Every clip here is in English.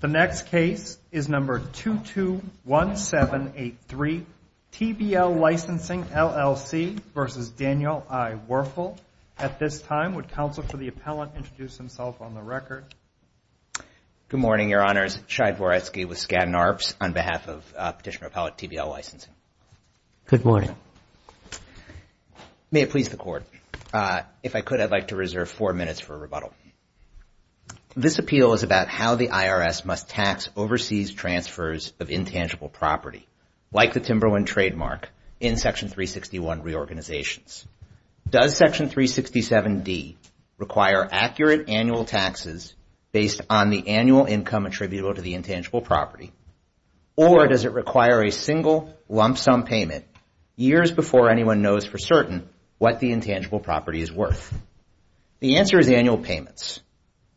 The next case is number 221783, TBL Licensing LLC v. Daniel I. Werfel. At this time, would counsel for the appellant introduce himself on the record? Good morning, your honors. Shai Voretsky with Skadden Arps on behalf of Petitioner Appellate TBL Licensing. Good morning. May it please the court, if I could, I'd like to reserve four minutes for a rebuttal. This appeal is about how the IRS must tax overseas transfers of intangible property, like the Timberland trademark, in Section 361 reorganizations. Does Section 367D require accurate annual taxes based on the annual income attributable to the intangible property, or does it require a single lump sum payment years before anyone knows for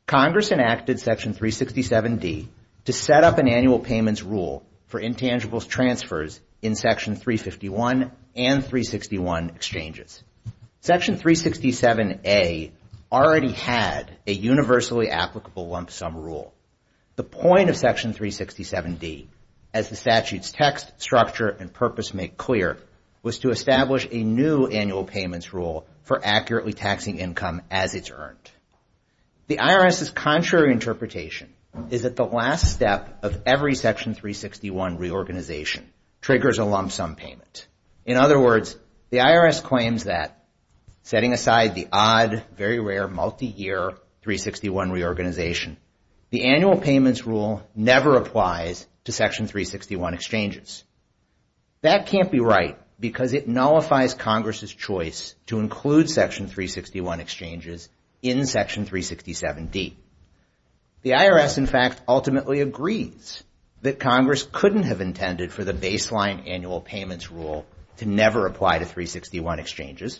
Congress enacted Section 367D to set up an annual payments rule for intangible transfers in Section 351 and 361 exchanges. Section 367A already had a universally applicable lump sum rule. The point of Section 367D, as the statute's text, structure, and purpose make clear, was to establish a new annual payments rule for accurately taxing income as it's earned. The IRS's contrary interpretation is that the last step of every Section 361 reorganization triggers a lump sum payment. In other words, the IRS claims that, setting aside the odd, very rare, multi-year 361 reorganization, the annual payments rule never applies to Section 361 exchanges. That can't be right because it nullifies Congress's choice to include Section 361 exchanges in Section 367D. The IRS, in fact, ultimately agrees that Congress couldn't have intended for the baseline annual payments rule to never apply to 361 exchanges,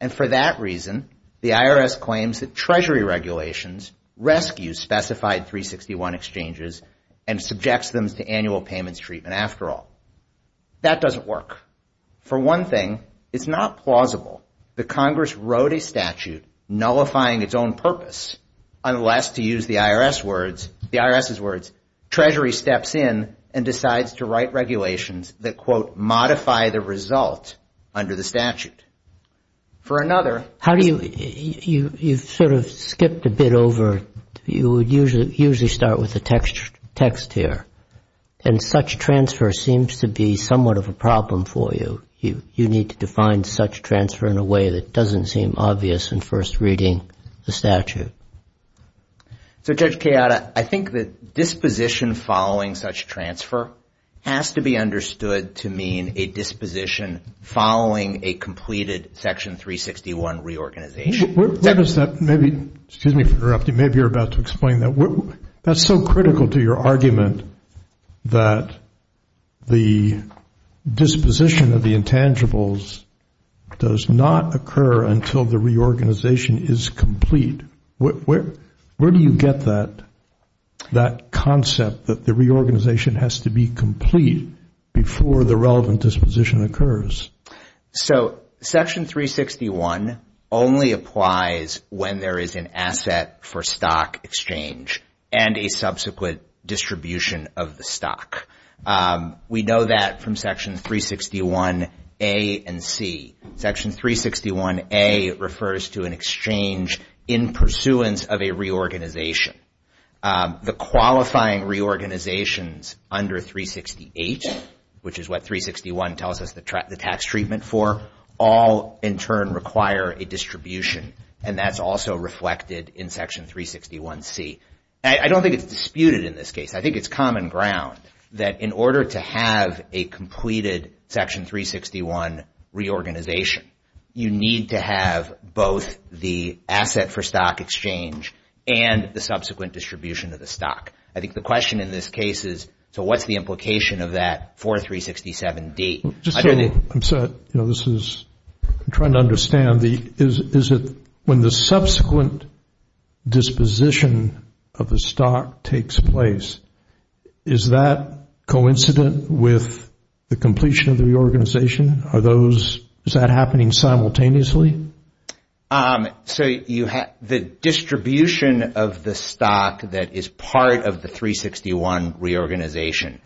and for that reason, the IRS claims that Treasury regulations rescues specified 361 exchanges and subjects them to annual payments treatment after all. That doesn't work. For one thing, it's not plausible that nullifying its own purpose, unless, to use the IRS's words, Treasury steps in and decides to write regulations that, quote, modify the result under the statute. For another... How do you... You've sort of skipped a bit over. You would usually start with the text here, and such transfer seems to be somewhat of a problem for you. You need to define such transfer in a way that doesn't seem obvious in first reading the statute. So, Judge Kayada, I think that disposition following such transfer has to be understood to mean a disposition following a completed Section 361 reorganization. Where does that... Maybe... Excuse me for interrupting. Maybe you're about to explain that. That's so critical to your argument that the disposition of the intangibles does not occur until the reorganization is complete. Where do you get that concept that the reorganization has to be complete before the relevant disposition occurs? So, Section 361 only applies when there is an asset for stock exchange and a subsequent distribution of the stock. We know that from Section 361A and C. Section 361A refers to an exchange in pursuance of a reorganization. The qualifying reorganizations under 368, which is what 361 tells us the tax treatment for, all in turn require a distribution, and that's also reflected in Section 361C. I don't think it's disputed in this case. I think it's common ground that in order to have a completed Section 361 reorganization, you need to have both the asset for stock exchange and the subsequent distribution of the stock. I think the implication of that for 367D... I'm sorry. I'm trying to understand. Is it when the subsequent disposition of the stock takes place, is that coincident with the completion of the reorganization? Is that happening simultaneously? So, the distribution of the stock that is part of the 361 reorganization,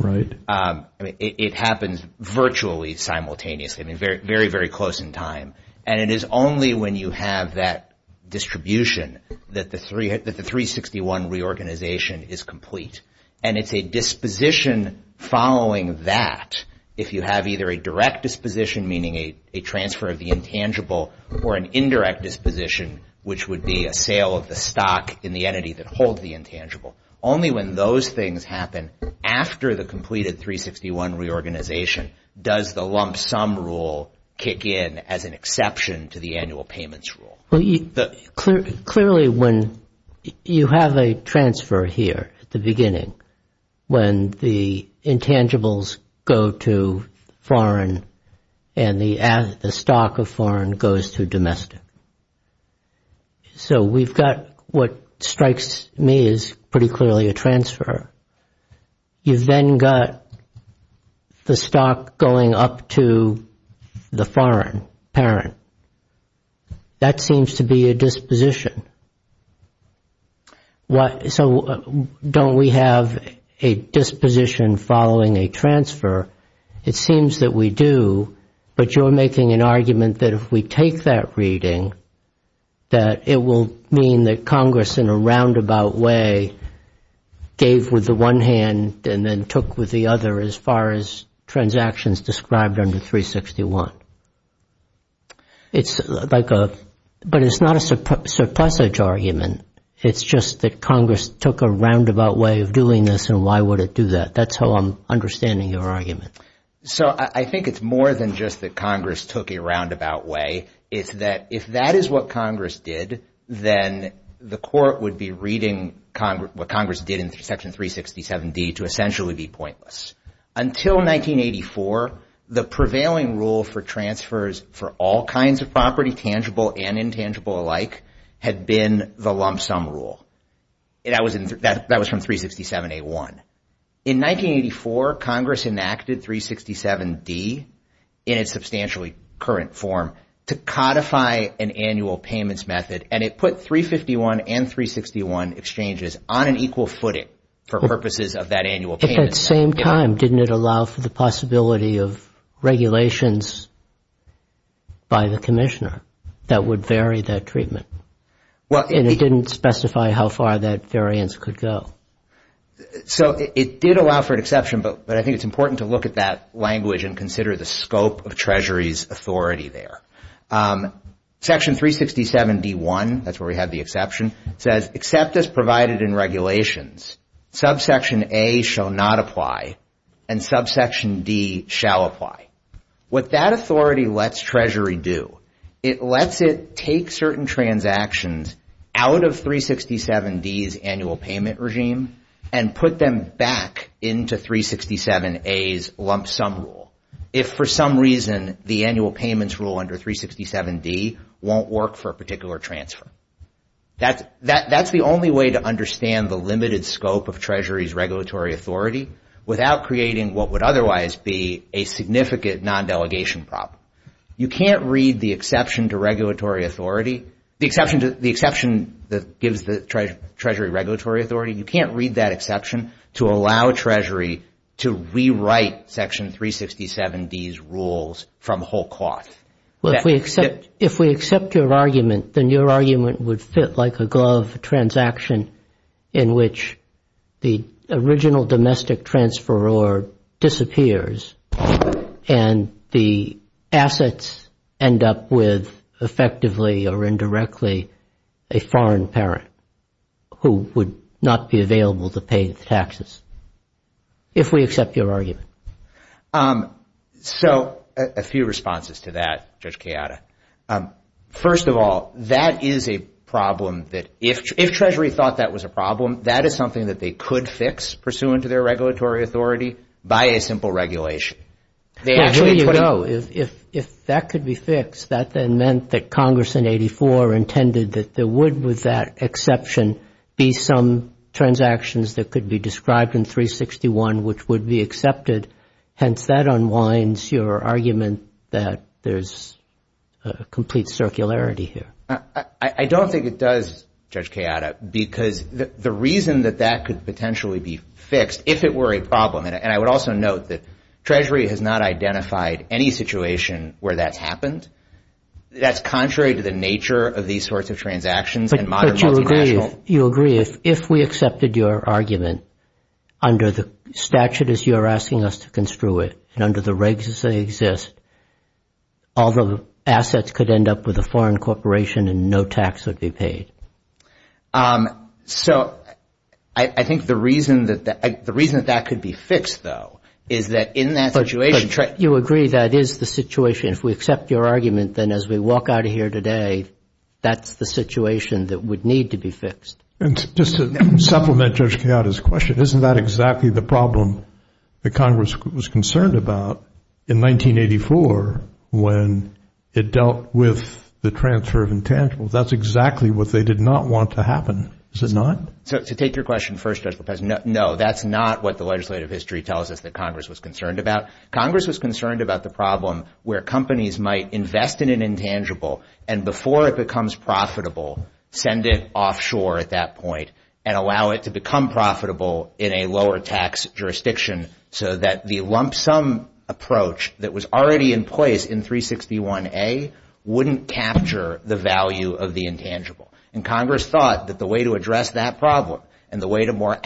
it happens virtually simultaneously, very, very close in time, and it is only when you have that distribution that the 361 reorganization is complete, and it's a disposition following that if you have either a direct disposition, meaning a transfer of the intangible, or an indirect disposition, which would be a sale of the stock in the entity that holds the intangible. Only when those things happen after the completed 361 reorganization does the lump sum rule kick in as an exception to the annual payments rule. Clearly, when you have a transfer here at the beginning, when the intangibles go to foreign and the stock of foreign goes to domestic. So, we've got what strikes me as pretty clearly a transfer. You've then got the stock going up to the foreign parent. That seems to be a disposition. So, don't we have a disposition following a transfer? It seems that we do, but you're making an argument that if we take that reading, that it will mean that Congress in a roundabout way gave with the one hand and then took with the other as far as transactions described under 361. It's like a, but it's not a surplusage argument. It's just that Congress took a roundabout way of doing this and why would it do that? That's how I'm understanding your argument. So, I think it's more than just that Congress took a roundabout way. It's that if that is what Congress did, then the court would be reading what Congress did in Section 367D to essentially be for all kinds of property, tangible and intangible alike, had been the lump sum rule. That was from 367A1. In 1984, Congress enacted 367D in its substantially current form to codify an annual payments method and it put 351 and 361 exchanges on an equal footing for purposes of that by the commissioner that would vary that treatment. Well, and it didn't specify how far that variance could go. So, it did allow for an exception, but I think it's important to look at that language and consider the scope of Treasury's authority there. Section 367D1, that's where we have the exception, says, except as provided in regulations, subsection A shall not apply and subsection D shall apply. What that authority lets Treasury do, it lets it take certain transactions out of 367D's annual payment regime and put them back into 367A's lump sum rule. If for some reason, the annual payments rule under 367D won't work for a particular transfer. That's the only way to understand the limited scope of Treasury's regulatory authority without creating what would otherwise be a significant non-delegation problem. You can't read the exception to regulatory authority, the exception that gives the Treasury regulatory authority, you can't read that exception to allow Treasury to rewrite section 367D's rules from whole cloth. Well, if we accept your argument, then your argument would fit like a glove transaction in which the original domestic transferor disappears and the assets end up with effectively or indirectly a foreign parent who would not be available to pay the taxes. If we accept your argument. So, a few responses to that, Judge Kayada. First of all, that is a problem that if Treasury thought that was a problem, that is something that they could fix pursuant to their regulatory authority by a simple regulation. Yeah, here you go. If that could be fixed, that then meant that Congress in 84 intended that there would with that exception be some transactions that could be described in 361 which would be accepted. Hence, that unwinds your argument that there's a complete circularity here. I don't think it does, Judge Kayada, because the reason that that could potentially be fixed if it were a problem, and I would also note that Treasury has not identified any situation where that's happened. That's contrary to the argument under the statute as you're asking us to construe it and under the regs as they exist, all the assets could end up with a foreign corporation and no tax would be paid. So, I think the reason that that could be fixed, though, is that in that situation. You agree that is the situation. If we accept your argument, then as we walk out of here today, that's the situation that would need to be fixed. And just to supplement Judge Kayada's question, isn't that exactly the problem that Congress was concerned about in 1984 when it dealt with the transfer of intangibles? That's exactly what they did not want to happen, is it not? So, to take your question first, Judge Lopez, no, that's not what the legislative history tells us that Congress was concerned about. Congress was concerned about the problem where companies might invest in an intangible and before it becomes profitable, send it offshore at that point and allow it to become profitable in a lower tax jurisdiction so that the lump sum approach that was already in place in 361A wouldn't capture the value of the intangible. And Congress thought that the way to address that problem and the way to more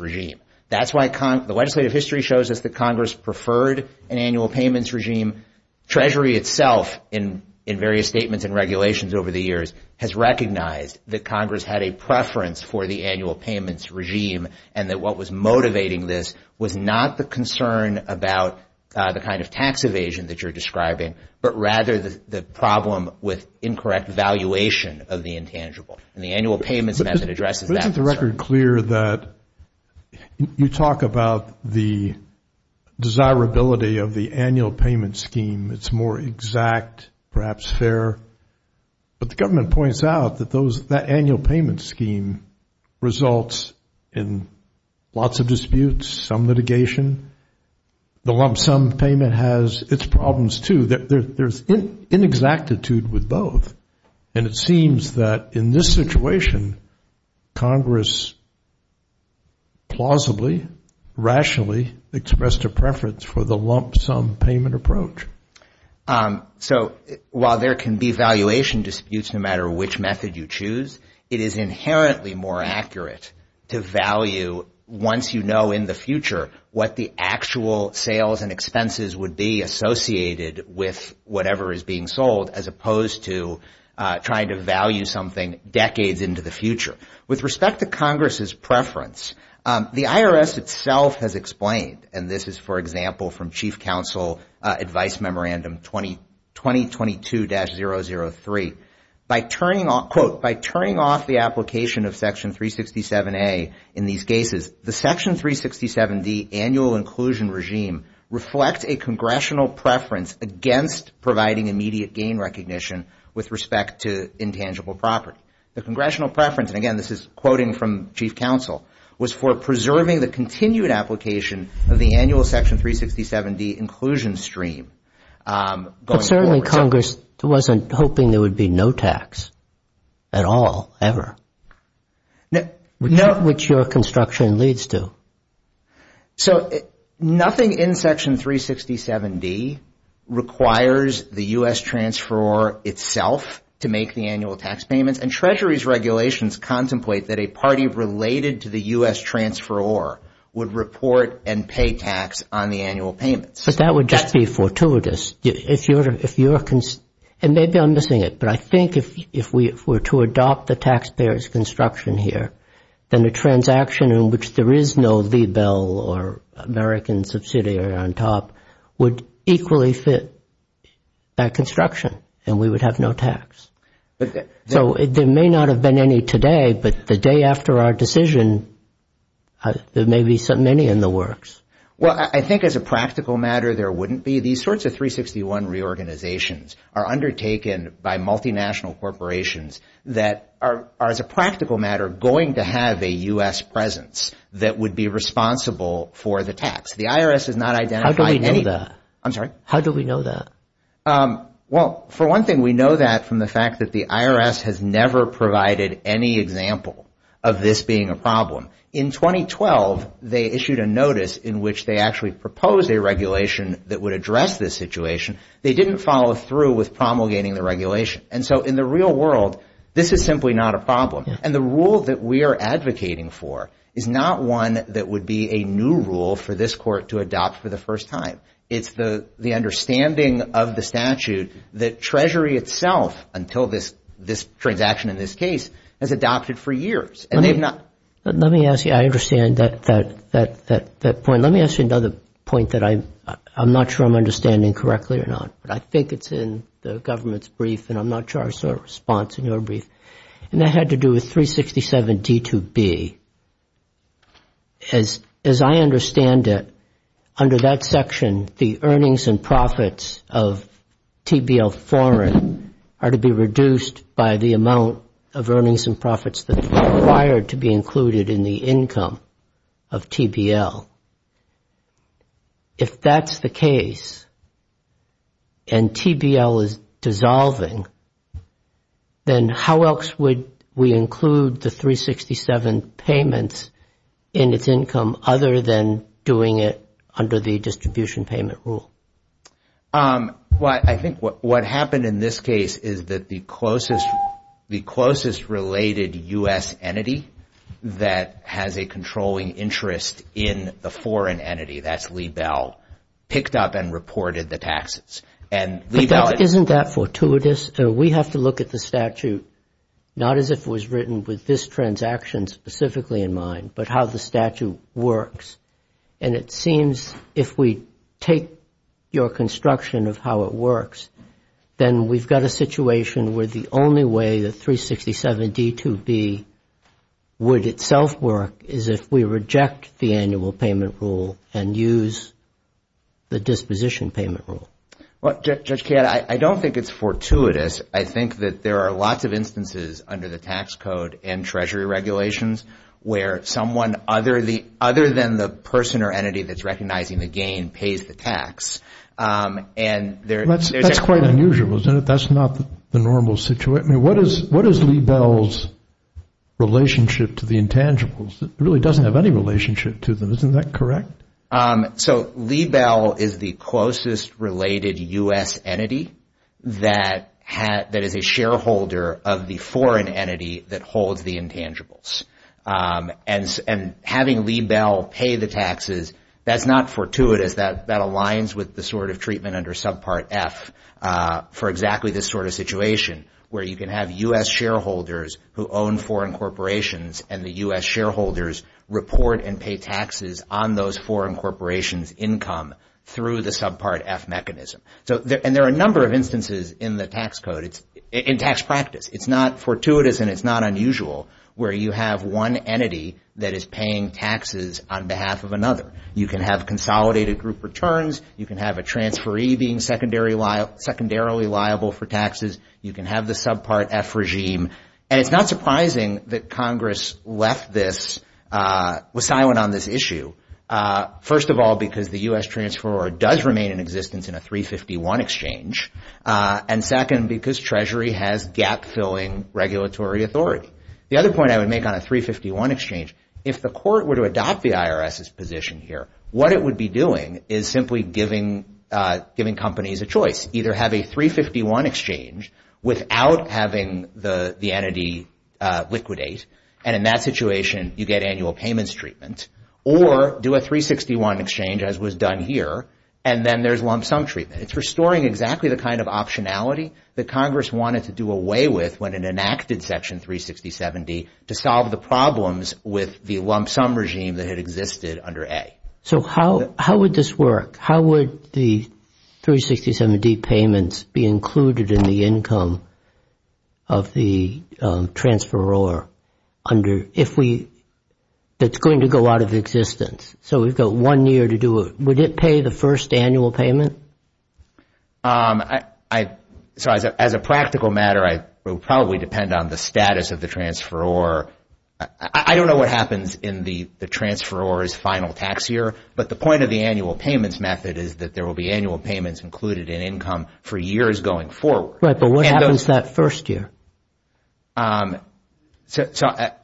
regime. That's why the legislative history shows us that Congress preferred an annual payments regime. Treasury itself, in various statements and regulations over the years, has recognized that Congress had a preference for the annual payments regime and that what was motivating this was not the concern about the kind of tax evasion that you're describing, but rather the problem with incorrect valuation of the intangible and the annual payments as it addresses that. It's a record clear that you talk about the desirability of the annual payment scheme. It's more exact, perhaps fair. But the government points out that those, that annual payment scheme results in lots of disputes, some litigation. The lump sum payment has its problems too. There's inexactitude with both. And it seems that in this situation, Congress plausibly, rationally expressed a preference for the lump sum payment approach. So while there can be valuation disputes, no matter which method you choose, it is inherently more accurate to value once you know in the future what the actual sales and revenue is being sold as opposed to trying to value something decades into the future. With respect to Congress's preference, the IRS itself has explained, and this is, for example, from Chief Counsel Advice Memorandum 2022-003, by turning off, quote, by turning off the application of Section 367A in these cases, the Section 367D annual inclusion regime reflects a congressional preference against providing immediate gain recognition with respect to intangible property. The congressional preference, and again, this is quoting from Chief Counsel, was for preserving the continued application of the annual Section 367D inclusion stream. But certainly Congress wasn't hoping there would be no tax at all, ever, which your construction leads to. So nothing in Section 367D requires the U.S. transferor itself to make the annual tax payments, and Treasury's regulations contemplate that a party related to the U.S. transferor would report and pay tax on the annual payments. But that would just be fortuitous. And maybe I'm missing it, but I think if we were to adopt the taxpayer's construction here, then the transaction in which there is no Libel or American subsidiary on top would equally fit that construction, and we would have no tax. So there may not have been any today, but the day after our decision, there may be so many in the works. Well, I think as a practical matter, there wouldn't be. These sorts of 361 reorganizations are undertaken by multinational corporations that are, as a practical matter, going to have a U.S. presence that would be responsible for the tax. How do we know that? Well, for one thing, we know that from the fact that the IRS has never provided any example of this being a problem. In 2012, they issued a notice in which they actually proposed a regulation that would address this situation. They didn't follow through with promulgating the regulation. And so in the real world, this is simply not a problem. And the rule that we are advocating for is not one that would be a new rule for this court to adopt for the first time. It's the understanding of the statute that Treasury itself, until this transaction in this case, has adopted for years. Let me ask you, I understand that point. Let me ask you another point that I'm not sure I'm understanding correctly or not, but I think it's in the government's brief and I'm not sure I saw a response in your brief. And that had to do with 367 D2B. As I understand it, under that section, the earnings and profits of TBL foreign are to be reduced by the amount of earnings and profits that are required to be included in the dissolving, then how else would we include the 367 payments in its income other than doing it under the distribution payment rule? Well, I think what happened in this case is that the closest related U.S. entity that has a controlling interest in the foreign entity, that's Lee Bell, picked up and reported the taxes. Isn't that fortuitous? We have to look at the statute, not as if it was written with this transaction specifically in mind, but how the statute works. And it seems if we take your construction of how it works, then we've got a situation where the only way the 367 D2B would itself work is if we reject the annual payment rule and use the disposition payment rule. Well, Judge Kadd, I don't think it's fortuitous. I think that there are lots of instances under the tax code and treasury regulations where someone other than the person or entity that's recognizing the gain pays the tax. That's quite unusual, isn't it? That's not the normal situation. What is Lee Bell's relationship to the intangibles? It really doesn't have any relationship to them. Isn't that correct? So Lee Bell is the closest related U.S. entity that is a shareholder of the foreign entity that holds the intangibles. And having Lee Bell pay the taxes, that's not fortuitous. That aligns with the sort of treatment under subpart F for exactly this sort of situation where you can have U.S. shareholders who own foreign corporations and the U.S. shareholders report and pay taxes on those foreign corporations' income through the subpart F mechanism. And there are a number of instances in the tax code, in tax practice. It's not fortuitous and it's not unusual where you have one entity that is paying taxes on behalf of another. You can have consolidated group returns. You can have a secondarily liable for taxes. You can have the subpart F regime. And it's not surprising that Congress left this, was silent on this issue. First of all, because the U.S. transfer does remain in existence in a 351 exchange. And second, because Treasury has gap-filling regulatory authority. The other point I would make on a 351 exchange, if the court were to adopt the IRS's choice, either have a 351 exchange without having the entity liquidate, and in that situation you get annual payments treatment, or do a 361 exchange as was done here and then there's lump sum treatment. It's restoring exactly the kind of optionality that Congress wanted to do away with when it enacted Section 367D to solve the problems with the lump sum regime that had existed under A. So how would this work? How would the 367D payments be included in the income of the transferor under, if we, that's going to go out of existence? So we've got one year to do it. Would it pay the first annual payment? So as a practical matter, I would probably depend on the status of the transferor. I don't know what happens in the transferor's final tax year, but the point of the annual payments method is that there will be annual payments included in income for years going forward. Right, but what happens that first year? So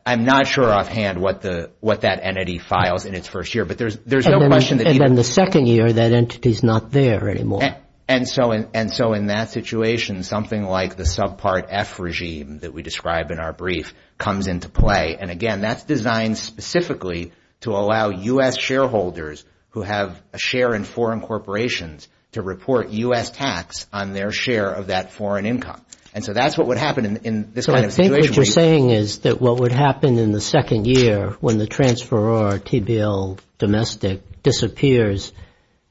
I'm not sure offhand what that entity files in its first year, but there's no question that... And then the second year, that entity is not there anymore. And so in that situation, something like the subpart F regime that we described in our brief comes into play. And again, that's designed specifically to allow U.S. shareholders who have a share in foreign corporations to report U.S. tax on their share of that foreign income. And so that's what would happen in this kind of situation. So I think what you're saying is that what would happen in the second year when the transferor, TBL domestic, disappears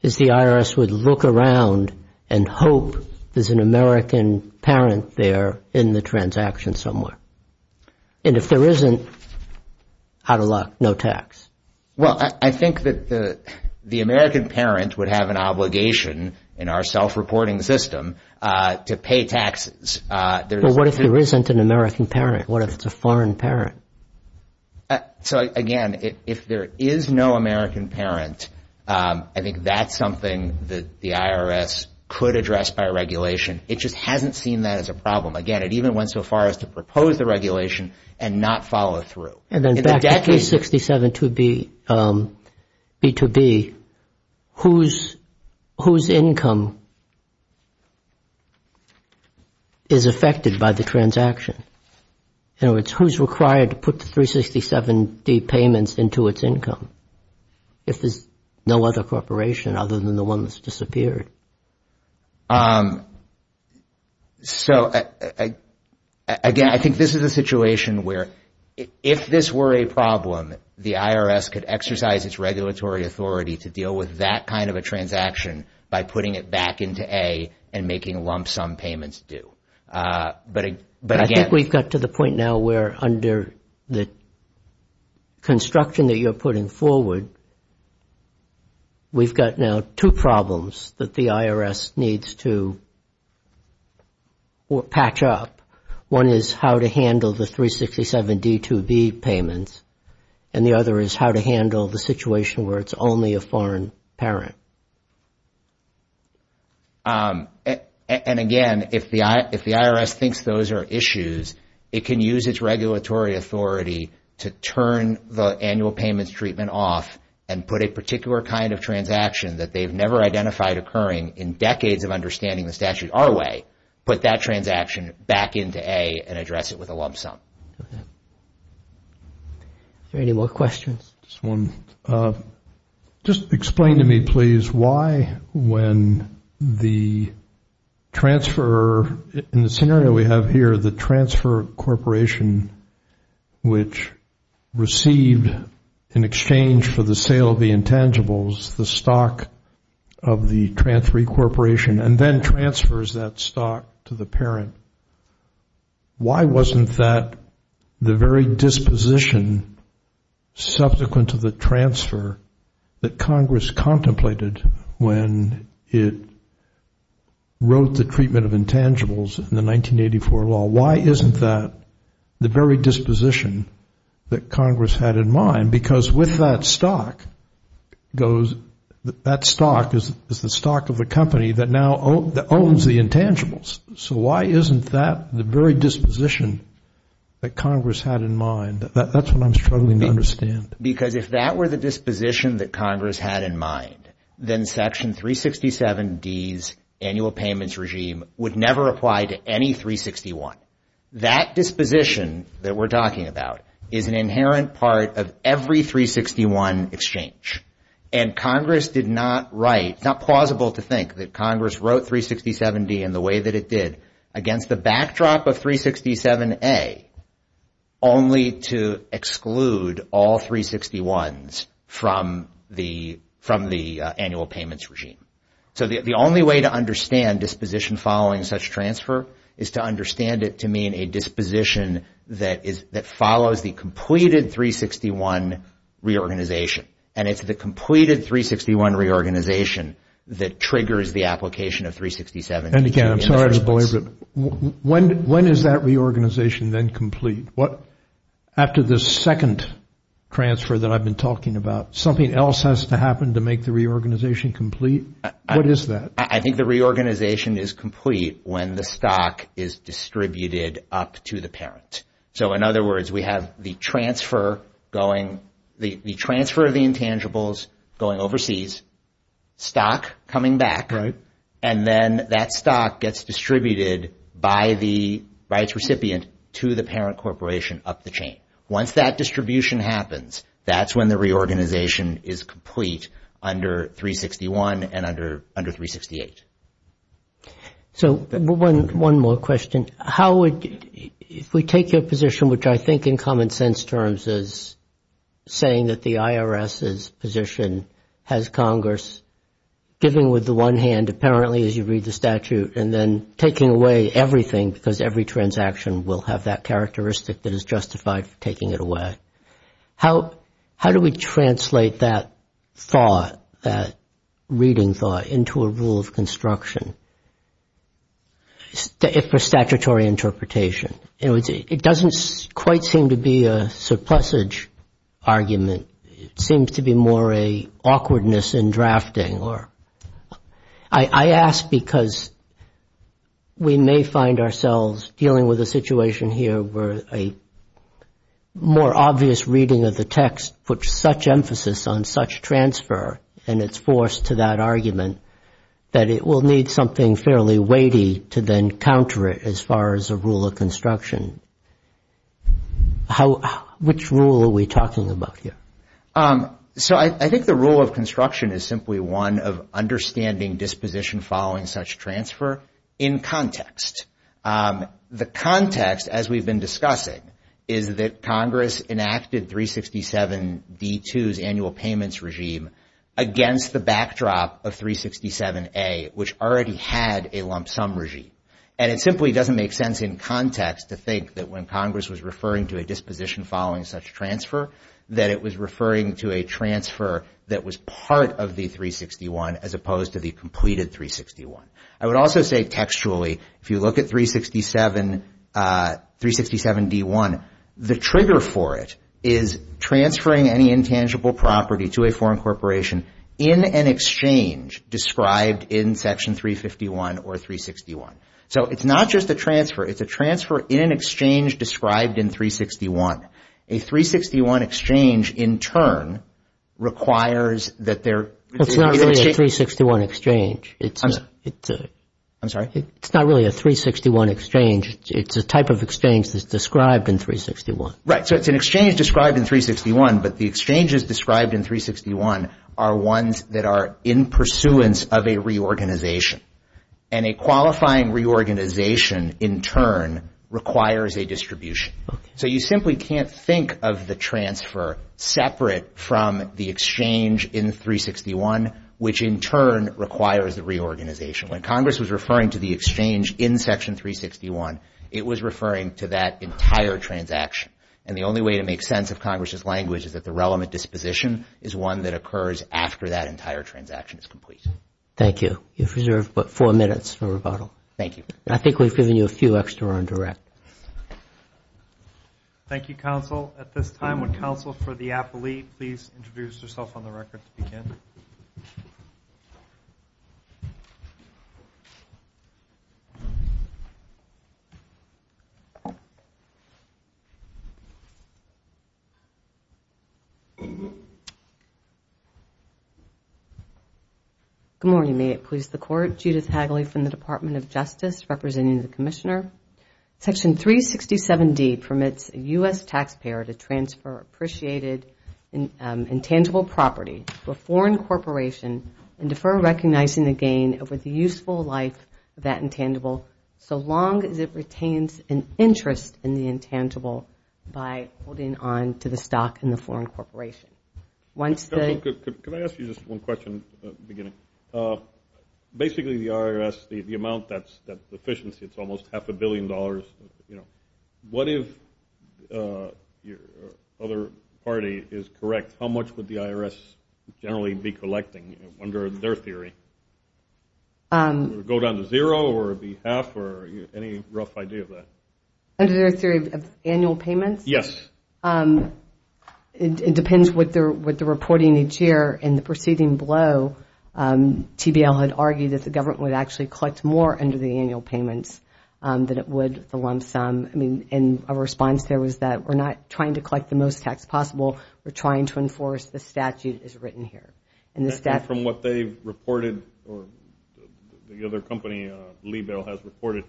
is the IRS would look around and hope there's an American parent there in the transaction somewhere. And if there isn't, out of luck, no tax. Well, I think that the American parent would have an obligation in our self-reporting system to pay taxes. But what if there isn't an American parent? What if it's a foreign parent? So again, if there is no American parent, I think that's something that the IRS could address by It just hasn't seen that as a problem. Again, it even went so far as to propose the regulation and not follow through. And then back to 367 B2B, whose income is affected by the transaction? In other words, who's required to put the 367 D payments into its income if there's no other corporation other than the one that's disappeared? So, again, I think this is a situation where if this were a problem, the IRS could exercise its regulatory authority to deal with that kind of a transaction by putting it back into A and making lump sum payments due. But again... I think we've got to the point now where under the construction that you're putting forward, we've got now two problems that the IRS needs to patch up. One is how to handle the 367 D2B payments, and the other is how to handle the situation where it's only a foreign parent. And again, if the IRS thinks those are issues, it can use its regulatory authority to turn the annual payments treatment off and put a particular kind of transaction that they've never identified occurring in decades of understanding the statute our way, put that transaction back into A and address it with a lump sum. Are there any more questions? Just explain to me, please, why when the transfer, in the scenario we have here, the transfer corporation which received, in exchange for the sale of the intangibles, the stock of the transferee corporation and then transfers that stock to the parent, why wasn't that the very disposition subsequent to the transfer that Congress contemplated when it of intangibles in the 1984 law? Why isn't that the very disposition that Congress had in mind? Because with that stock, that stock is the stock of the company that now owns the intangibles. So why isn't that the very disposition that Congress had in mind? That's what I'm struggling to understand. Because if that were the disposition that Congress had in mind, then Section 367D's annual payments regime would never apply to any 361. That disposition that we're talking about is an inherent part of every 361 exchange. And Congress did not write, it's not plausible to think that Congress wrote 367D in the way that it against the backdrop of 367A only to exclude all 361s from the annual payments regime. So the only way to understand disposition following such transfer is to understand it to mean a disposition that follows the completed 361 reorganization. And it's the completed 361 reorganization that triggers the application of 367. Again, I'm sorry to belabor it. When is that reorganization then complete? After the second transfer that I've been talking about, something else has to happen to make the reorganization complete? What is that? I think the reorganization is complete when the stock is distributed up to the parent. So in other words, we have the transfer of the intangibles going overseas, stock coming back, and then that stock gets distributed by the rights recipient to the parent corporation up the chain. Once that distribution happens, that's when the reorganization is complete under 361 and under 368. So one more question. How would, if we take your position, which I think in common sense terms is saying that the IRS's position has Congress giving with the one hand apparently as you read the statute and then taking away everything because every transaction will have that characteristic that is justified for taking it away, how do we translate that thought, that reading thought, into a rule of construction for statutory interpretation? It doesn't quite seem to be a Plessig argument. It seems to be more an awkwardness in drafting. I ask because we may find ourselves dealing with a situation here where a more obvious reading of the text puts such emphasis on such transfer and its force to that argument that it will need something fairly weighty to then counter it as far as a rule of construction. Which rule are we talking about here? So I think the rule of construction is simply one of understanding disposition following such transfer in context. The context, as we've been discussing, is that Congress enacted 367D2's annual payments regime against the backdrop of 367A, which already had a lump sum regime. And it simply doesn't make sense in context to think that when Congress was referring to a disposition following such transfer that it was referring to a transfer that was part of the 361 as opposed to the completed 361. I would also say textually if you look at 367D1, the trigger for it is transferring any intangible property to a foreign corporation in an exchange described in Section 351 or 361. So it's not just a transfer. It's a transfer in an exchange described in 361. A 361 exchange in turn requires that there... It's not really a 361 exchange. I'm sorry? It's not really a 361 exchange. It's a type of exchange that's described in 361. Right. So it's an exchange described in 361, but the exchanges described in 361 are ones that are in pursuance of a reorganization. And a qualifying reorganization in turn requires a distribution. So you simply can't think of the transfer separate from the exchange in 361, which in turn requires the reorganization. When Congress was referring to the exchange in Section 361, it was referring to that entire transaction. And the only way to make sense of Congress's language is that the relevant disposition is one that occurs after that entire transaction is complete. Thank you. You have reserved but four minutes for rebuttal. Thank you. I think we've given you a few extra on direct. Thank you, counsel. At this time, would counsel for the appellee please introduce herself on the record to begin? Good morning. May it please the Court. Judith Hagley from the Department of Justice, representing the Commissioner. Section 367D permits a U.S. taxpayer to transfer appreciated intangible property to a foreign corporation and defer recognizing the gain over the useful life of that intangible so long as it retains an interest in the intangible by holding on to the stock in the foreign corporation. Could I ask you just one question beginning? Basically, the IRS, the amount that's efficiency, it's almost half a billion dollars. What if your other party is correct? How much would the IRS generally be collecting under their theory? Would it go down to zero or be half or any rough idea of that? Under their theory of annual payments? Yes. It depends what the reporting each year and the proceeding below. TBL had argued that the government would actually collect more under the annual payments than it would the lump sum. I mean, in a response, there was that we're not trying to collect the most tax possible. We're trying to enforce the statute as written here. And from what they've reported or the other company, Libel, has reported,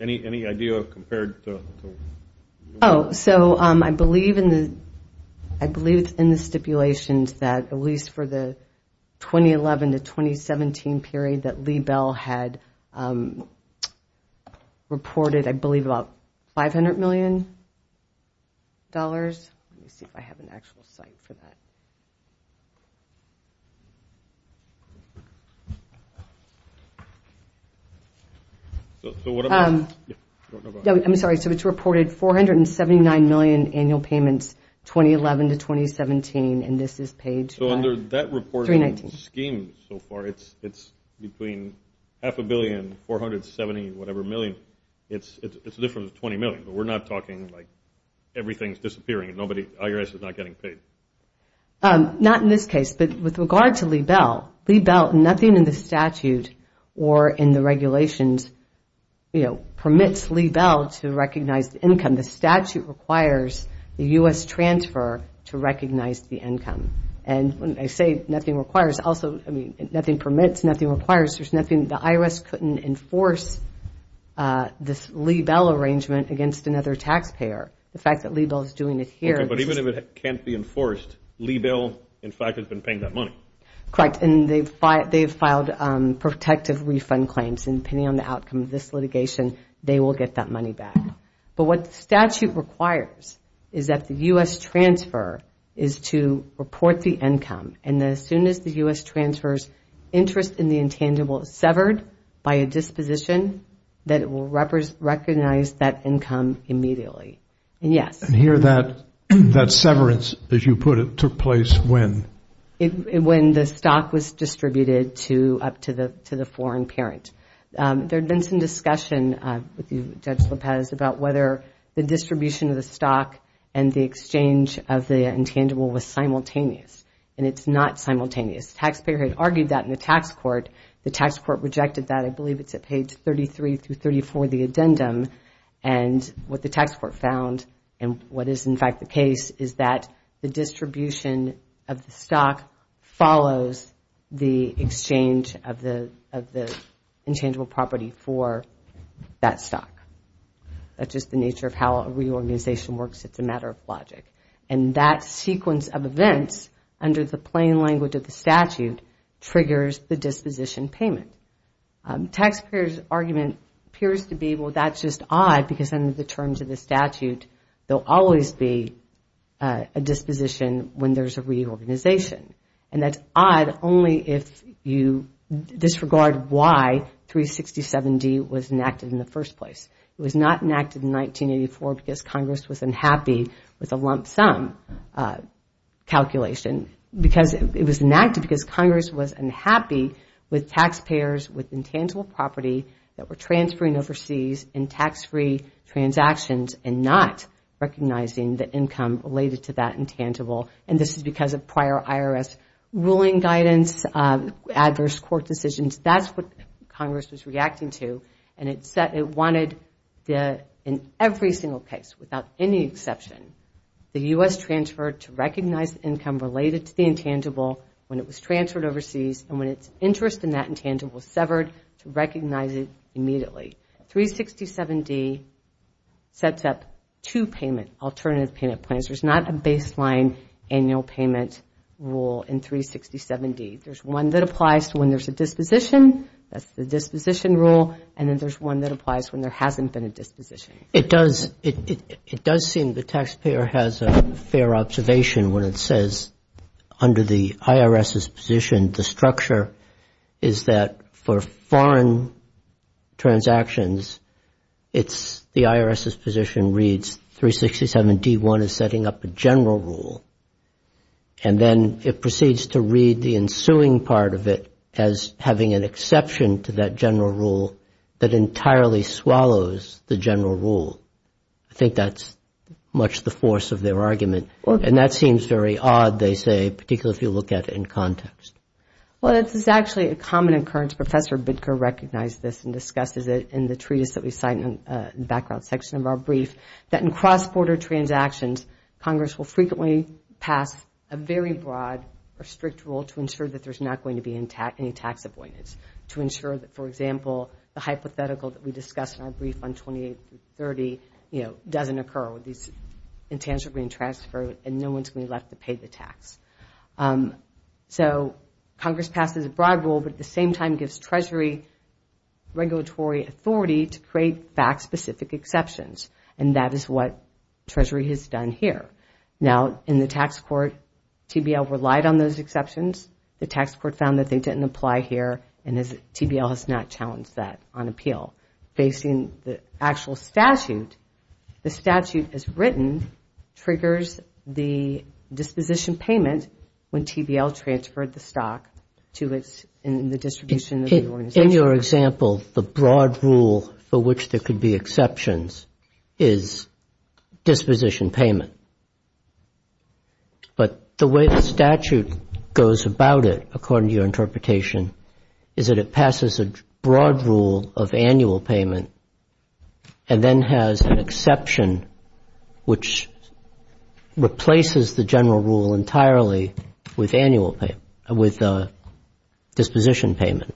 any idea of compared to? Oh, so I believe in the, I believe in the stipulations that at least for the 2011 to 2017 period that Libel had reported, I believe, about 500 million dollars. Let me see if I have an actual site for that. So, what about... I'm sorry, so it's reported 479 million annual payments, 2011 to 2017, and this is paid... So under that reporting scheme so far, it's between half a billion, 470 whatever million. It's a difference of 20 million, but we're not talking like everything's disappearing and nobody, the IRS is not getting paid. Not in this case, but with regard to Libel, Libel, nothing in the statute or in the regulations, you know, permits Libel to recognize the income. The statute requires the U.S. transfer to recognize the income. And when I say nothing requires, also, I mean, nothing permits, nothing requires. There's nothing, the IRS couldn't enforce this Libel arrangement against another taxpayer. The fact that Libel is doing it here... Libel, in fact, has been paying that money. Correct, and they've filed protective refund claims. And depending on the outcome of this litigation, they will get that money back. But what the statute requires is that the U.S. transfer is to report the income. And as soon as the U.S. transfer's interest in the intangible is severed by a disposition, that it will recognize that income immediately. And yes. And here that severance, as you put it, took place when? When the stock was distributed to, up to the foreign parent. There'd been some discussion with Judge Lopez about whether the distribution of the stock and the exchange of the intangible was simultaneous. And it's not simultaneous. Taxpayer had argued that in the tax court. The tax court rejected that. I believe it's at page 33 through 34 of the addendum. And what the tax court found, and what is in fact the case, is that the distribution of the stock follows the exchange of the intangible property for that stock. That's just the nature of how a reorganization works. It's a matter of logic. And that sequence of events, under the plain language of the statute, triggers the disposition payment. Taxpayers' argument appears to be, well, that's just odd, because under the terms of the statute, there'll always be a disposition when there's a reorganization. And that's odd only if you disregard why 367D was enacted in the first place. It was not enacted in 1984 because Congress was unhappy with a lump sum calculation. It was enacted because Congress was unhappy with taxpayers with intangible property that were transferring overseas in tax-free transactions and not recognizing the income related to that intangible. And this is because of prior IRS ruling guidance, adverse court decisions. That's what Congress was reacting to. And it wanted in every single case, without any exception, the U.S. transferred to recognize income related to the intangible when it was transferred overseas. And when its interest in that intangible was severed, to recognize it immediately. 367D sets up two payment, alternative payment plans. There's not a baseline annual payment rule in 367D. There's one that applies when there's a disposition. That's the disposition rule. And then there's one that applies when there hasn't been a disposition. It does, it does seem the taxpayer has a fair observation when it says under the IRS's position, the structure is that for foreign transactions, it's the IRS's position reads 367D1 is setting up a general rule. And then it proceeds to read the ensuing part of it as having an exception to that general rule that entirely swallows the general rule. I think that's much the force of their argument. And that seems very odd, they say, particularly if you look at it in context. Well, this is actually a common occurrence. Professor Bidker recognized this and discusses it in the treatise that we cite in the background section of our brief, that in cross-border transactions, Congress will frequently pass a very broad or strict rule to ensure that there's not going to be any tax avoidance. To ensure that, for example, the hypothetical that we discussed in our brief on 2830, you know, doesn't occur with these intangible and transfer, and no one's going to be left to pay the tax. So, Congress passes a broad rule, but at the same time gives Treasury regulatory authority to create back specific exceptions. And that is what Treasury has done here. Now, in the tax court, TBL relied on those exceptions. The tax court found that they didn't apply here, and TBL has not challenged that on appeal. Facing the actual statute, the statute as written triggers the disposition payment when TBL transferred the stock to its, in the distribution of the organization. In your example, the broad rule for which there could be exceptions is disposition payment. But the way the statute goes about it, according to your interpretation, is that it passes a broad rule of annual payment and then has an exception which replaces the general rule entirely with annual payment, with disposition payment.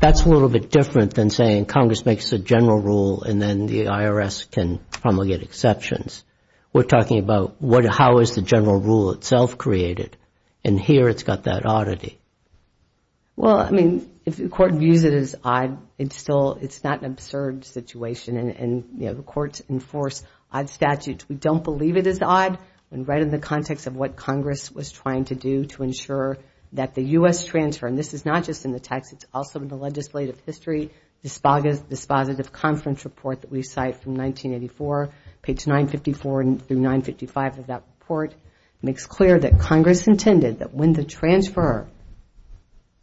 That's a little bit different than saying Congress makes a general rule and then the IRS can promulgate exceptions. We're talking about how is the general rule itself created, and here it's got that oddity. Well, I mean, if the court views it as odd, it's still, it's not an absurd situation, and the courts enforce odd statutes. We don't believe it is odd, and right in the context of what Congress was trying to do to ensure that the U.S. transfer, and this is not just in the text, it's also in the legislative history, this positive conference report that we cite from 1984, page 954 through 955 of that report, makes clear that Congress intended that when the transfer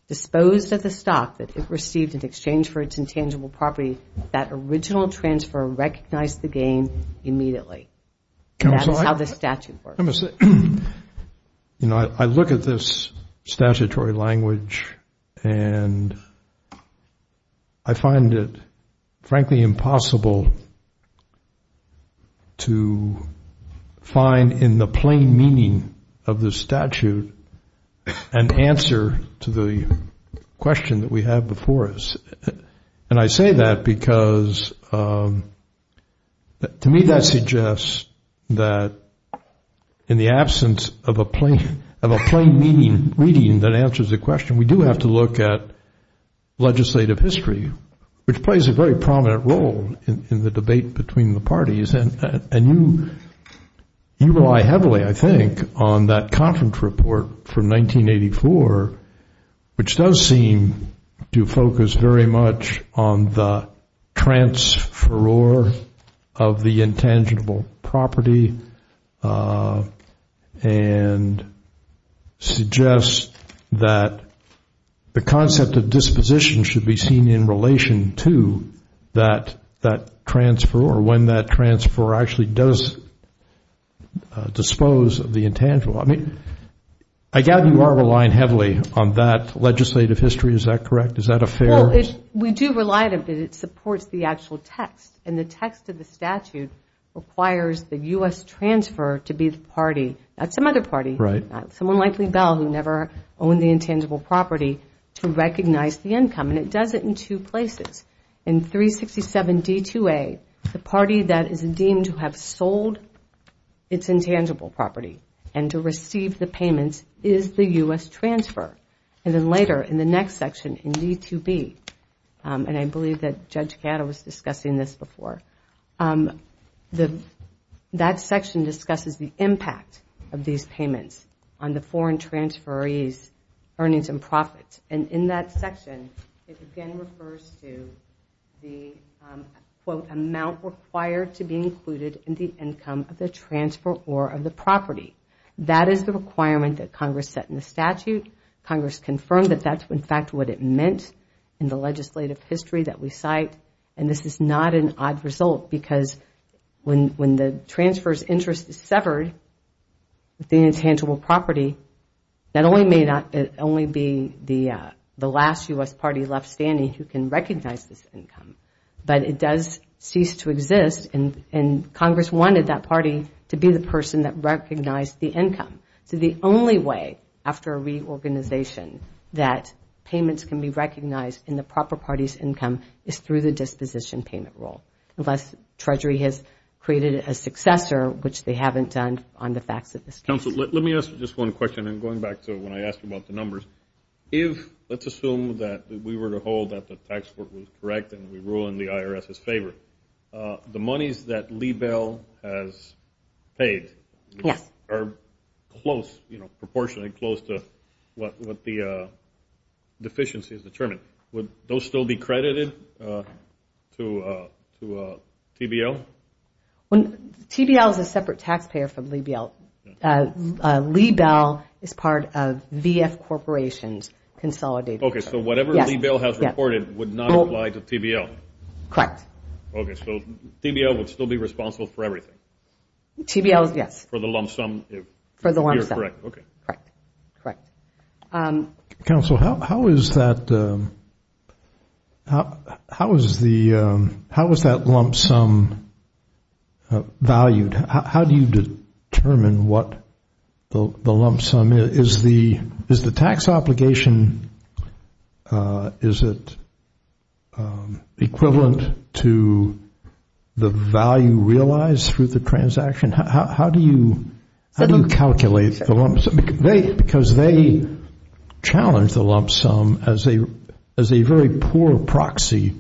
disposed of the stock that it received in exchange for its intangible property, that original transfer recognized the gain immediately. And that is how the statute works. I look at this statutory language and I find it, frankly, impossible to find in the plain meaning of the statute an answer to the question that we have before us. And I say that because to me that suggests that in the absence of a plain meaning, reading that answers the question, we do have to look at legislative history, which plays a very prominent role in the debate between the parties. And you rely heavily, I think, on that conference report from 1984, which does seem to focus very much on the transferor of the intangible property and suggests that the concept of disposition should be seen in relation to that transferor, when that transfer actually does dispose of the intangible. I mean, I doubt you are relying heavily on that legislative history. Is that correct? Is that a fair? We do rely on it because it supports the actual text. And the text of the statute requires the U.S. transfer to be the party, not some other party, someone like Lee Bell, who never owned the intangible property, to recognize the income. And it does it in two places. In 367 D-2A, the party that is deemed to have sold its intangible property and to receive the payments is the U.S. transfer. And then later in the next section in D-2B, and I believe that Judge Gatto was discussing this before, that section discusses the impact of these payments on the foreign transferee's earnings and profits. And in that section, it again refers to the, quote, amount required to be included in the income of the transferor of the property. That is the requirement that Congress set in the statute. Congress confirmed that that's, in fact, what it meant in the legislative history that we cite. And this is not an odd result because when the transferor's interest is severed with the intangible property, that only may not only be the last U.S. party left standing who can recognize this income. But it does cease to exist. And Congress wanted that party to be the person that recognized the income. So the only way, after a reorganization, that payments can be recognized in the proper party's income is through the disposition payment rule, unless Treasury has created a successor, which they haven't done on the facts of the statute. Counsel, let me ask just one question. And going back to when I asked you about the numbers, if, let's assume that we were to hold that the tax court was correct and we ruined the IRS's favor, the monies that Lee Bell has paid are close, you know, proportionally close to what the deficiency has determined. Would those still be credited to TBL? TBL is a separate taxpayer from Lee Bell. Lee Bell is part of VF Corporations Consolidated. So whatever Lee Bell has reported would not apply to TBL? Correct. Okay. So TBL would still be responsible for everything? TBL, yes. For the lump sum? For the lump sum. Okay. Correct. Correct. Counsel, how is that lump sum valued? How do you determine what the lump sum is? Is the tax obligation, is it equivalent to the value realized through the transaction? How do you calculate the lump sum? Because they challenge the lump sum as a very poor proxy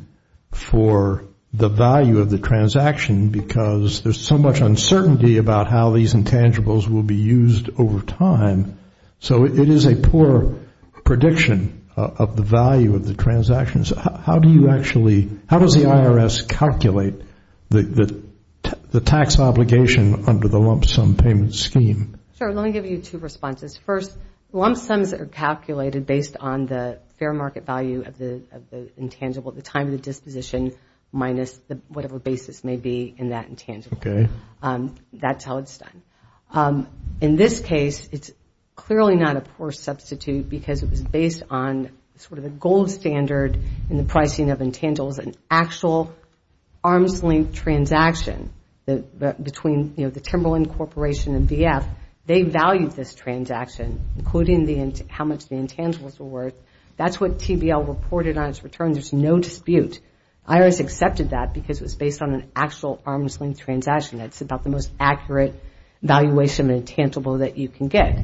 for the value of the transaction because there's so much uncertainty about how these intangibles will be used over time. So it is a poor prediction of the value of the transactions. How do you actually, how does the IRS calculate the tax obligation under the lump sum payment scheme? Sure. Let me give you two responses. First, lump sums are calculated based on the fair market value of the intangible, the time of the disposition minus whatever basis may be in that intangible. Okay. That's how it's done. In this case, it's clearly not a poor substitute because it was based on sort of a gold standard in the pricing of intangibles and actual arms-length transaction between the Timberland Corporation and VF. They valued this transaction including how much the intangibles were worth. That's what TBL reported on its return. There's no dispute. IRS accepted that because it was based on an actual arms-length transaction. It's about the most accurate valuation of an intangible that you can get.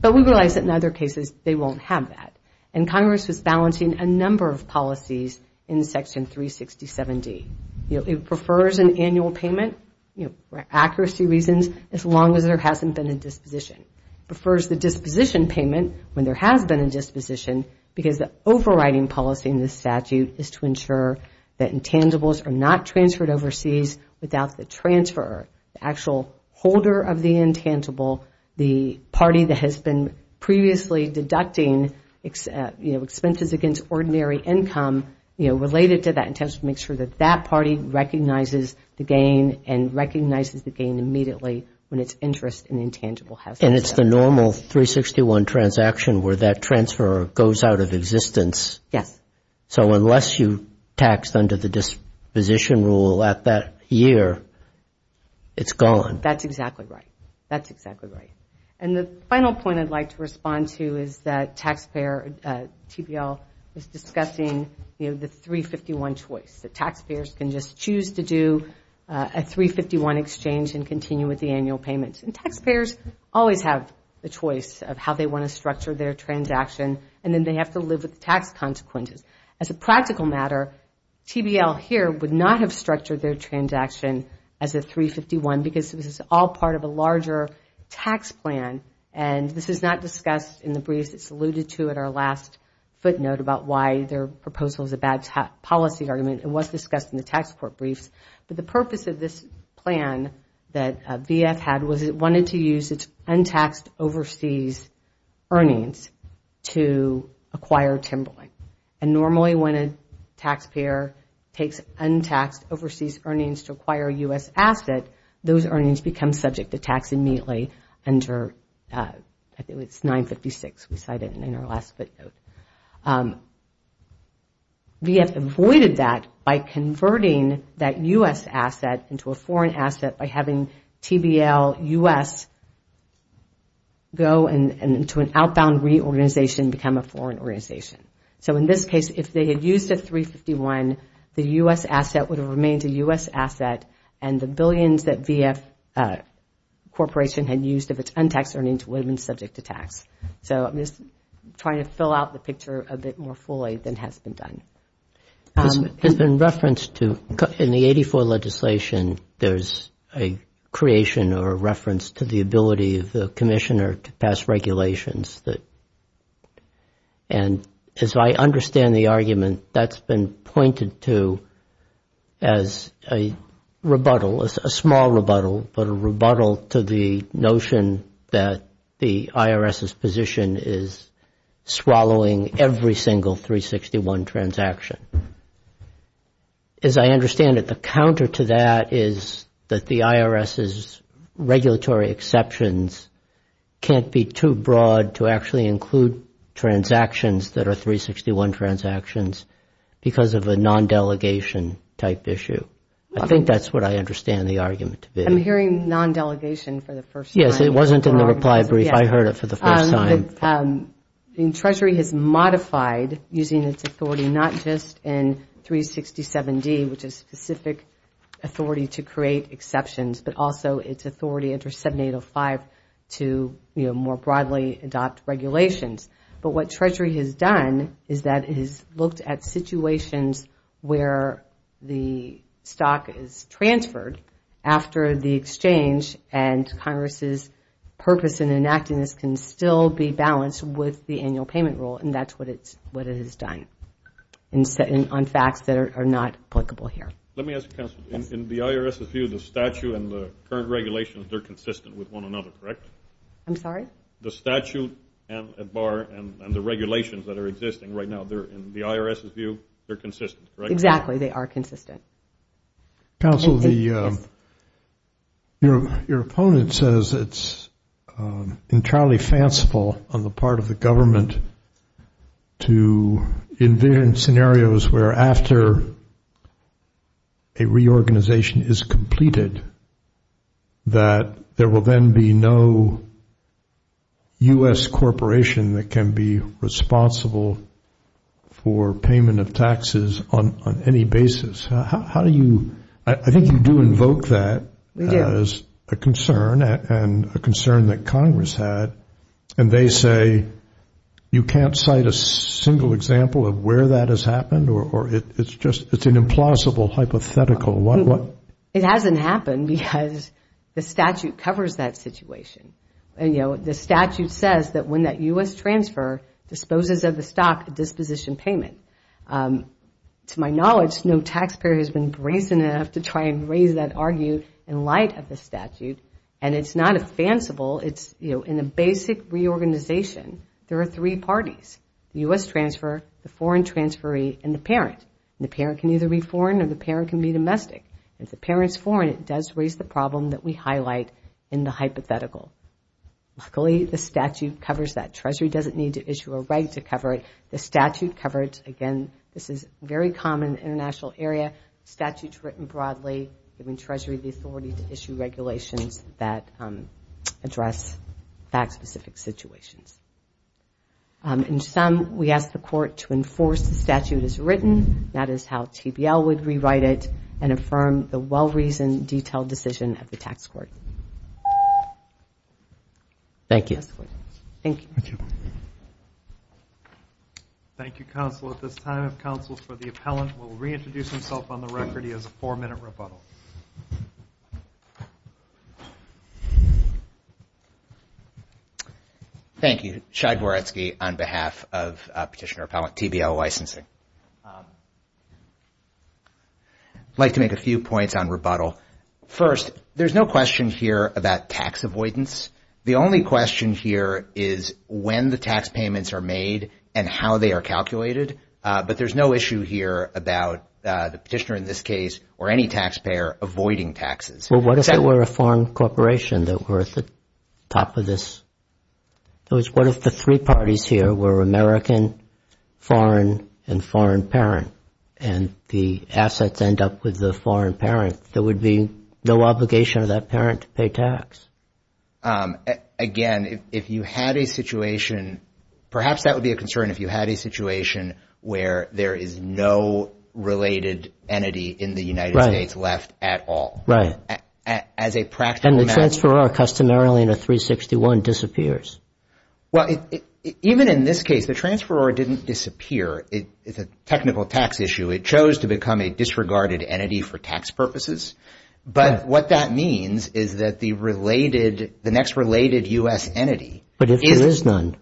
But we realize that in other cases, they won't have that. And Congress was balancing a number of policies in Section 367D. You know, it prefers an annual payment, you know, for accuracy reasons, as long as there hasn't been a disposition. Prefers the disposition payment when there has been a disposition because the overriding policy in this statute is to ensure that intangibles are not transferred overseas without the transfer, the actual holder of the intangible, the party that has been previously deducting expenses against ordinary income, you know, related to that intention to make sure that that party recognizes the gain and recognizes the gain immediately when it's interest in intangible has... And it's the normal 361 transaction where that transfer goes out of existence. Yes. So unless you taxed under the disposition rule at that year, it's gone. That's exactly right. That's exactly right. And the final point I'd like to respond to is that taxpayer, TBL, is discussing, you know, the 351 choice. The taxpayers can just choose to do a 351 exchange and continue with the annual payments. And taxpayers always have the choice of how they want to structure their transaction and then they have to live with the tax consequences. As a practical matter, TBL here would not have structured their transaction as a 351 because this is all part of a larger tax plan. And this is not discussed in the briefs that's alluded to at our last footnote about why their proposal is a bad policy argument. It was discussed in the tax court briefs. But the purpose of this plan that VF had was it wanted to use its untaxed overseas earnings to acquire Timberlink. And normally when a taxpayer takes untaxed overseas earnings to acquire a U.S. asset, those earnings become subject to tax immediately under, I think it was 956 we cited in our last footnote. VF avoided that by converting that U.S. asset into a foreign asset by having TBL U.S. go into an outbound reorganization, become a foreign organization. So in this case, if they had used a 351, the U.S. asset would have remained a U.S. asset and the billions that VF Corporation had used of its untaxed earnings would have been subject to tax. So I'm just trying to fill out the picture a bit more fully than has been done. It has been referenced to, in the 84 legislation, there's a creation or a reference to the ability of the commissioner to pass regulations that, and as I understand the argument, that's been pointed to as a rebuttal, as a small rebuttal, but a rebuttal to the notion that the IRS's position is swallowing every single 361 transaction. As I understand it, the counter to that is that the IRS's regulatory exceptions can't be too broad to actually include transactions that are 361 transactions because of a non-delegation type issue. I think that's what I understand the argument to be. I'm hearing non-delegation for the first time. Yes, it wasn't in the reply brief. I heard it for the first time. Treasury has modified, using its authority, not just in 367D, which is specific authority to create exceptions, but also its authority under 7805 to more broadly adopt regulations. But what Treasury has done is that it has looked at situations where the stock is transferred after the exchange, and Congress's purpose in enacting this can still be balanced with the annual payment rule, and that's what it has done on facts that are not applicable here. Let me ask counsel, in the IRS's view, the statute and the current regulations, they're consistent with one another, correct? I'm sorry? The statute at bar and the regulations that are existing right now, in the IRS's view, they're consistent, correct? Exactly, they are consistent. Counsel, your opponent says it's entirely fanciful on the part of the government to envision scenarios where after a reorganization is completed, that there will then be no U.S. corporation that can be responsible for payment of taxes on any basis. How do you, I think you do invoke that as a concern and a concern that Congress had, and they say, you can't cite a single example of where that has happened, or it's just, it's an implausible hypothetical. What? It hasn't happened. Because the statute covers that situation. And the statute says that when that U.S. transfer disposes of the stock, a disposition payment. To my knowledge, no taxpayer has been brazen enough to try and raise that argue in light of the statute. And it's not a fanciful, it's in a basic reorganization, there are three parties, the U.S. transfer, the foreign transferee, and the parent. The parent can either be foreign or the parent can be domestic. If the parent's foreign, it does raise the problem that we highlight in the hypothetical. Luckily, the statute covers that. Treasury doesn't need to issue a reg to cover it. The statute covers, again, this is very common in the international area, statutes written broadly, giving Treasury the authority to issue regulations that address that specific situations. In sum, we ask the court to enforce the statute as written, that is how TBL would rewrite it, and affirm the well-reasoned, detailed decision of the tax court. Thank you. Thank you, Counsel. At this time, if Counsel for the Appellant will reintroduce himself on the record, he has a four-minute rebuttal. Thank you. Shai Goretsky on behalf of Petitioner Appellant, TBL Licensing. I'd like to make a few points on rebuttal. First, there's no question here about tax avoidance. The only question here is when the tax payments are made and how they are calculated. But there's no issue here about the petitioner, in this case, or any taxpayer avoiding taxes. Well, what if they were a foreign corporation that were at the top of this? In other words, what if the three parties here were American, foreign, and foreign? And the assets end up with the foreign parent, there would be no obligation of that parent to pay tax. Perhaps that would be a concern if you had a situation where there is no related entity in the United States left at all. Right. And the transferor, customarily in a 361, disappears. Well, even in this case, the transferor didn't disappear. It's a technical tax issue. It chose to become a disregarded entity for tax purposes. But what that means is that the next related US entity is- But if there is none?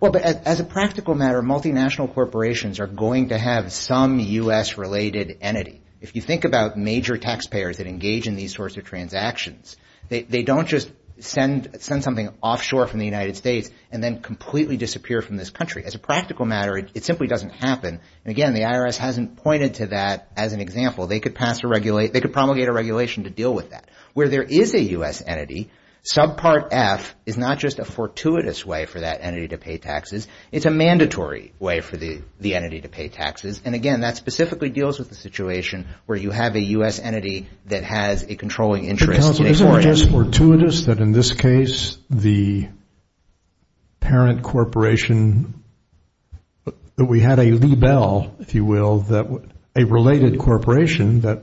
Well, but as a practical matter, multinational corporations are going to have some US-related entity. If you think about major taxpayers that engage in these sorts of transactions, they don't just send something offshore from the United States and then completely disappear from this country. As a practical matter, it simply doesn't happen. And again, the IRS hasn't pointed to that as an example. They could pass a regulate- they could promulgate a regulation to deal with that. Where there is a US entity, subpart F is not just a fortuitous way for that entity to pay taxes, it's a mandatory way for the entity to pay taxes. And again, that specifically deals with the situation where you have a US entity that has a controlling interest- Counsel, isn't it just fortuitous that in this case, the parent corporation- that we had a lebel, if you will, that- a related corporation that-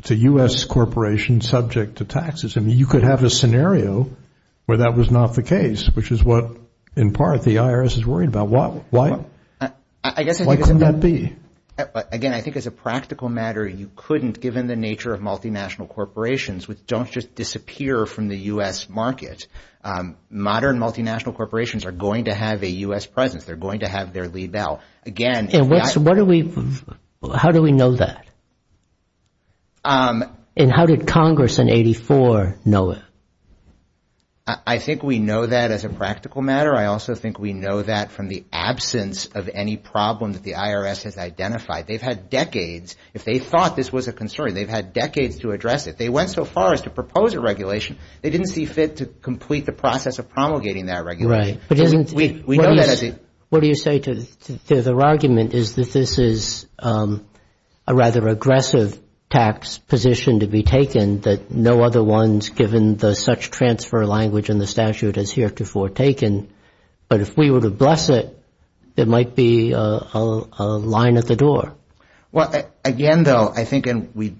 it's a US corporation subject to taxes. I mean, you could have a scenario where that was not the case, which is what, in part, the IRS is worried about. Why- why- why couldn't that be? Again, I think as a practical matter, you couldn't, given the nature of multinational corporations, don't just disappear from the US market. Modern multinational corporations are going to have a US presence. They're going to have their lebel. Again- And what's- what do we- how do we know that? And how did Congress in 84 know it? I think we know that as a practical matter. I also think we know that from the absence of any problem that the IRS has identified. They've had decades- if they thought this was a concern, they've had decades to address it. They went so far as to propose a regulation. They didn't see fit to complete the process of promulgating that regulation. Right. But isn't- We- we know that as a- What do you say to- to their argument is that this is a rather aggressive tax position to be taken that no other one's given the such transfer language in the statute has heretofore taken. But if we were to bless it, it might be a- a line at the door. Well, again, though, I think- and we-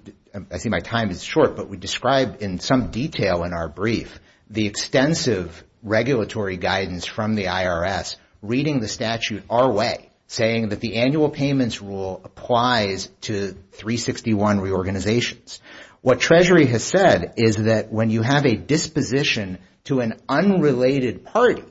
I see my time is short, but we described in some detail in our brief the extensive regulatory guidance from the IRS reading the statute our way, saying that the annual payments rule applies to 361 reorganizations. What Treasury has said is that when you have a disposition to an unrelated party,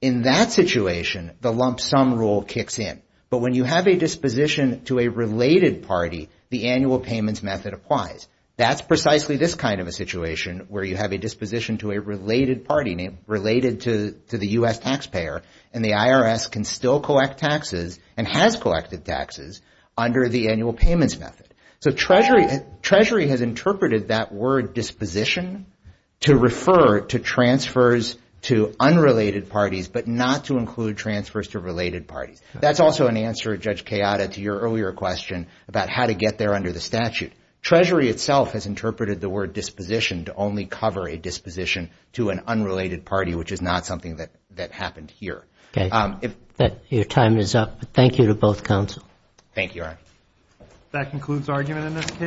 in that situation, the lump sum rule kicks in. But when you have a disposition to a related party, the annual payments method applies. That's precisely this kind of a situation where you have a disposition to a related party, related to- to the U.S. taxpayer, and the IRS can still collect taxes and has collected taxes under the annual payments method. So Treasury- Treasury has interpreted that word disposition to refer to transfers to unrelated parties, but not to include transfers to related parties. That's also an answer, Judge Kayada, to your earlier question about how to get there under the statute. Treasury itself has interpreted the word disposition to only cover a disposition to an unrelated party, which is not something that- that happened here. Okay, your time is up. Thank you to both counsel. Thank you, Your Honor. That concludes argument in this case.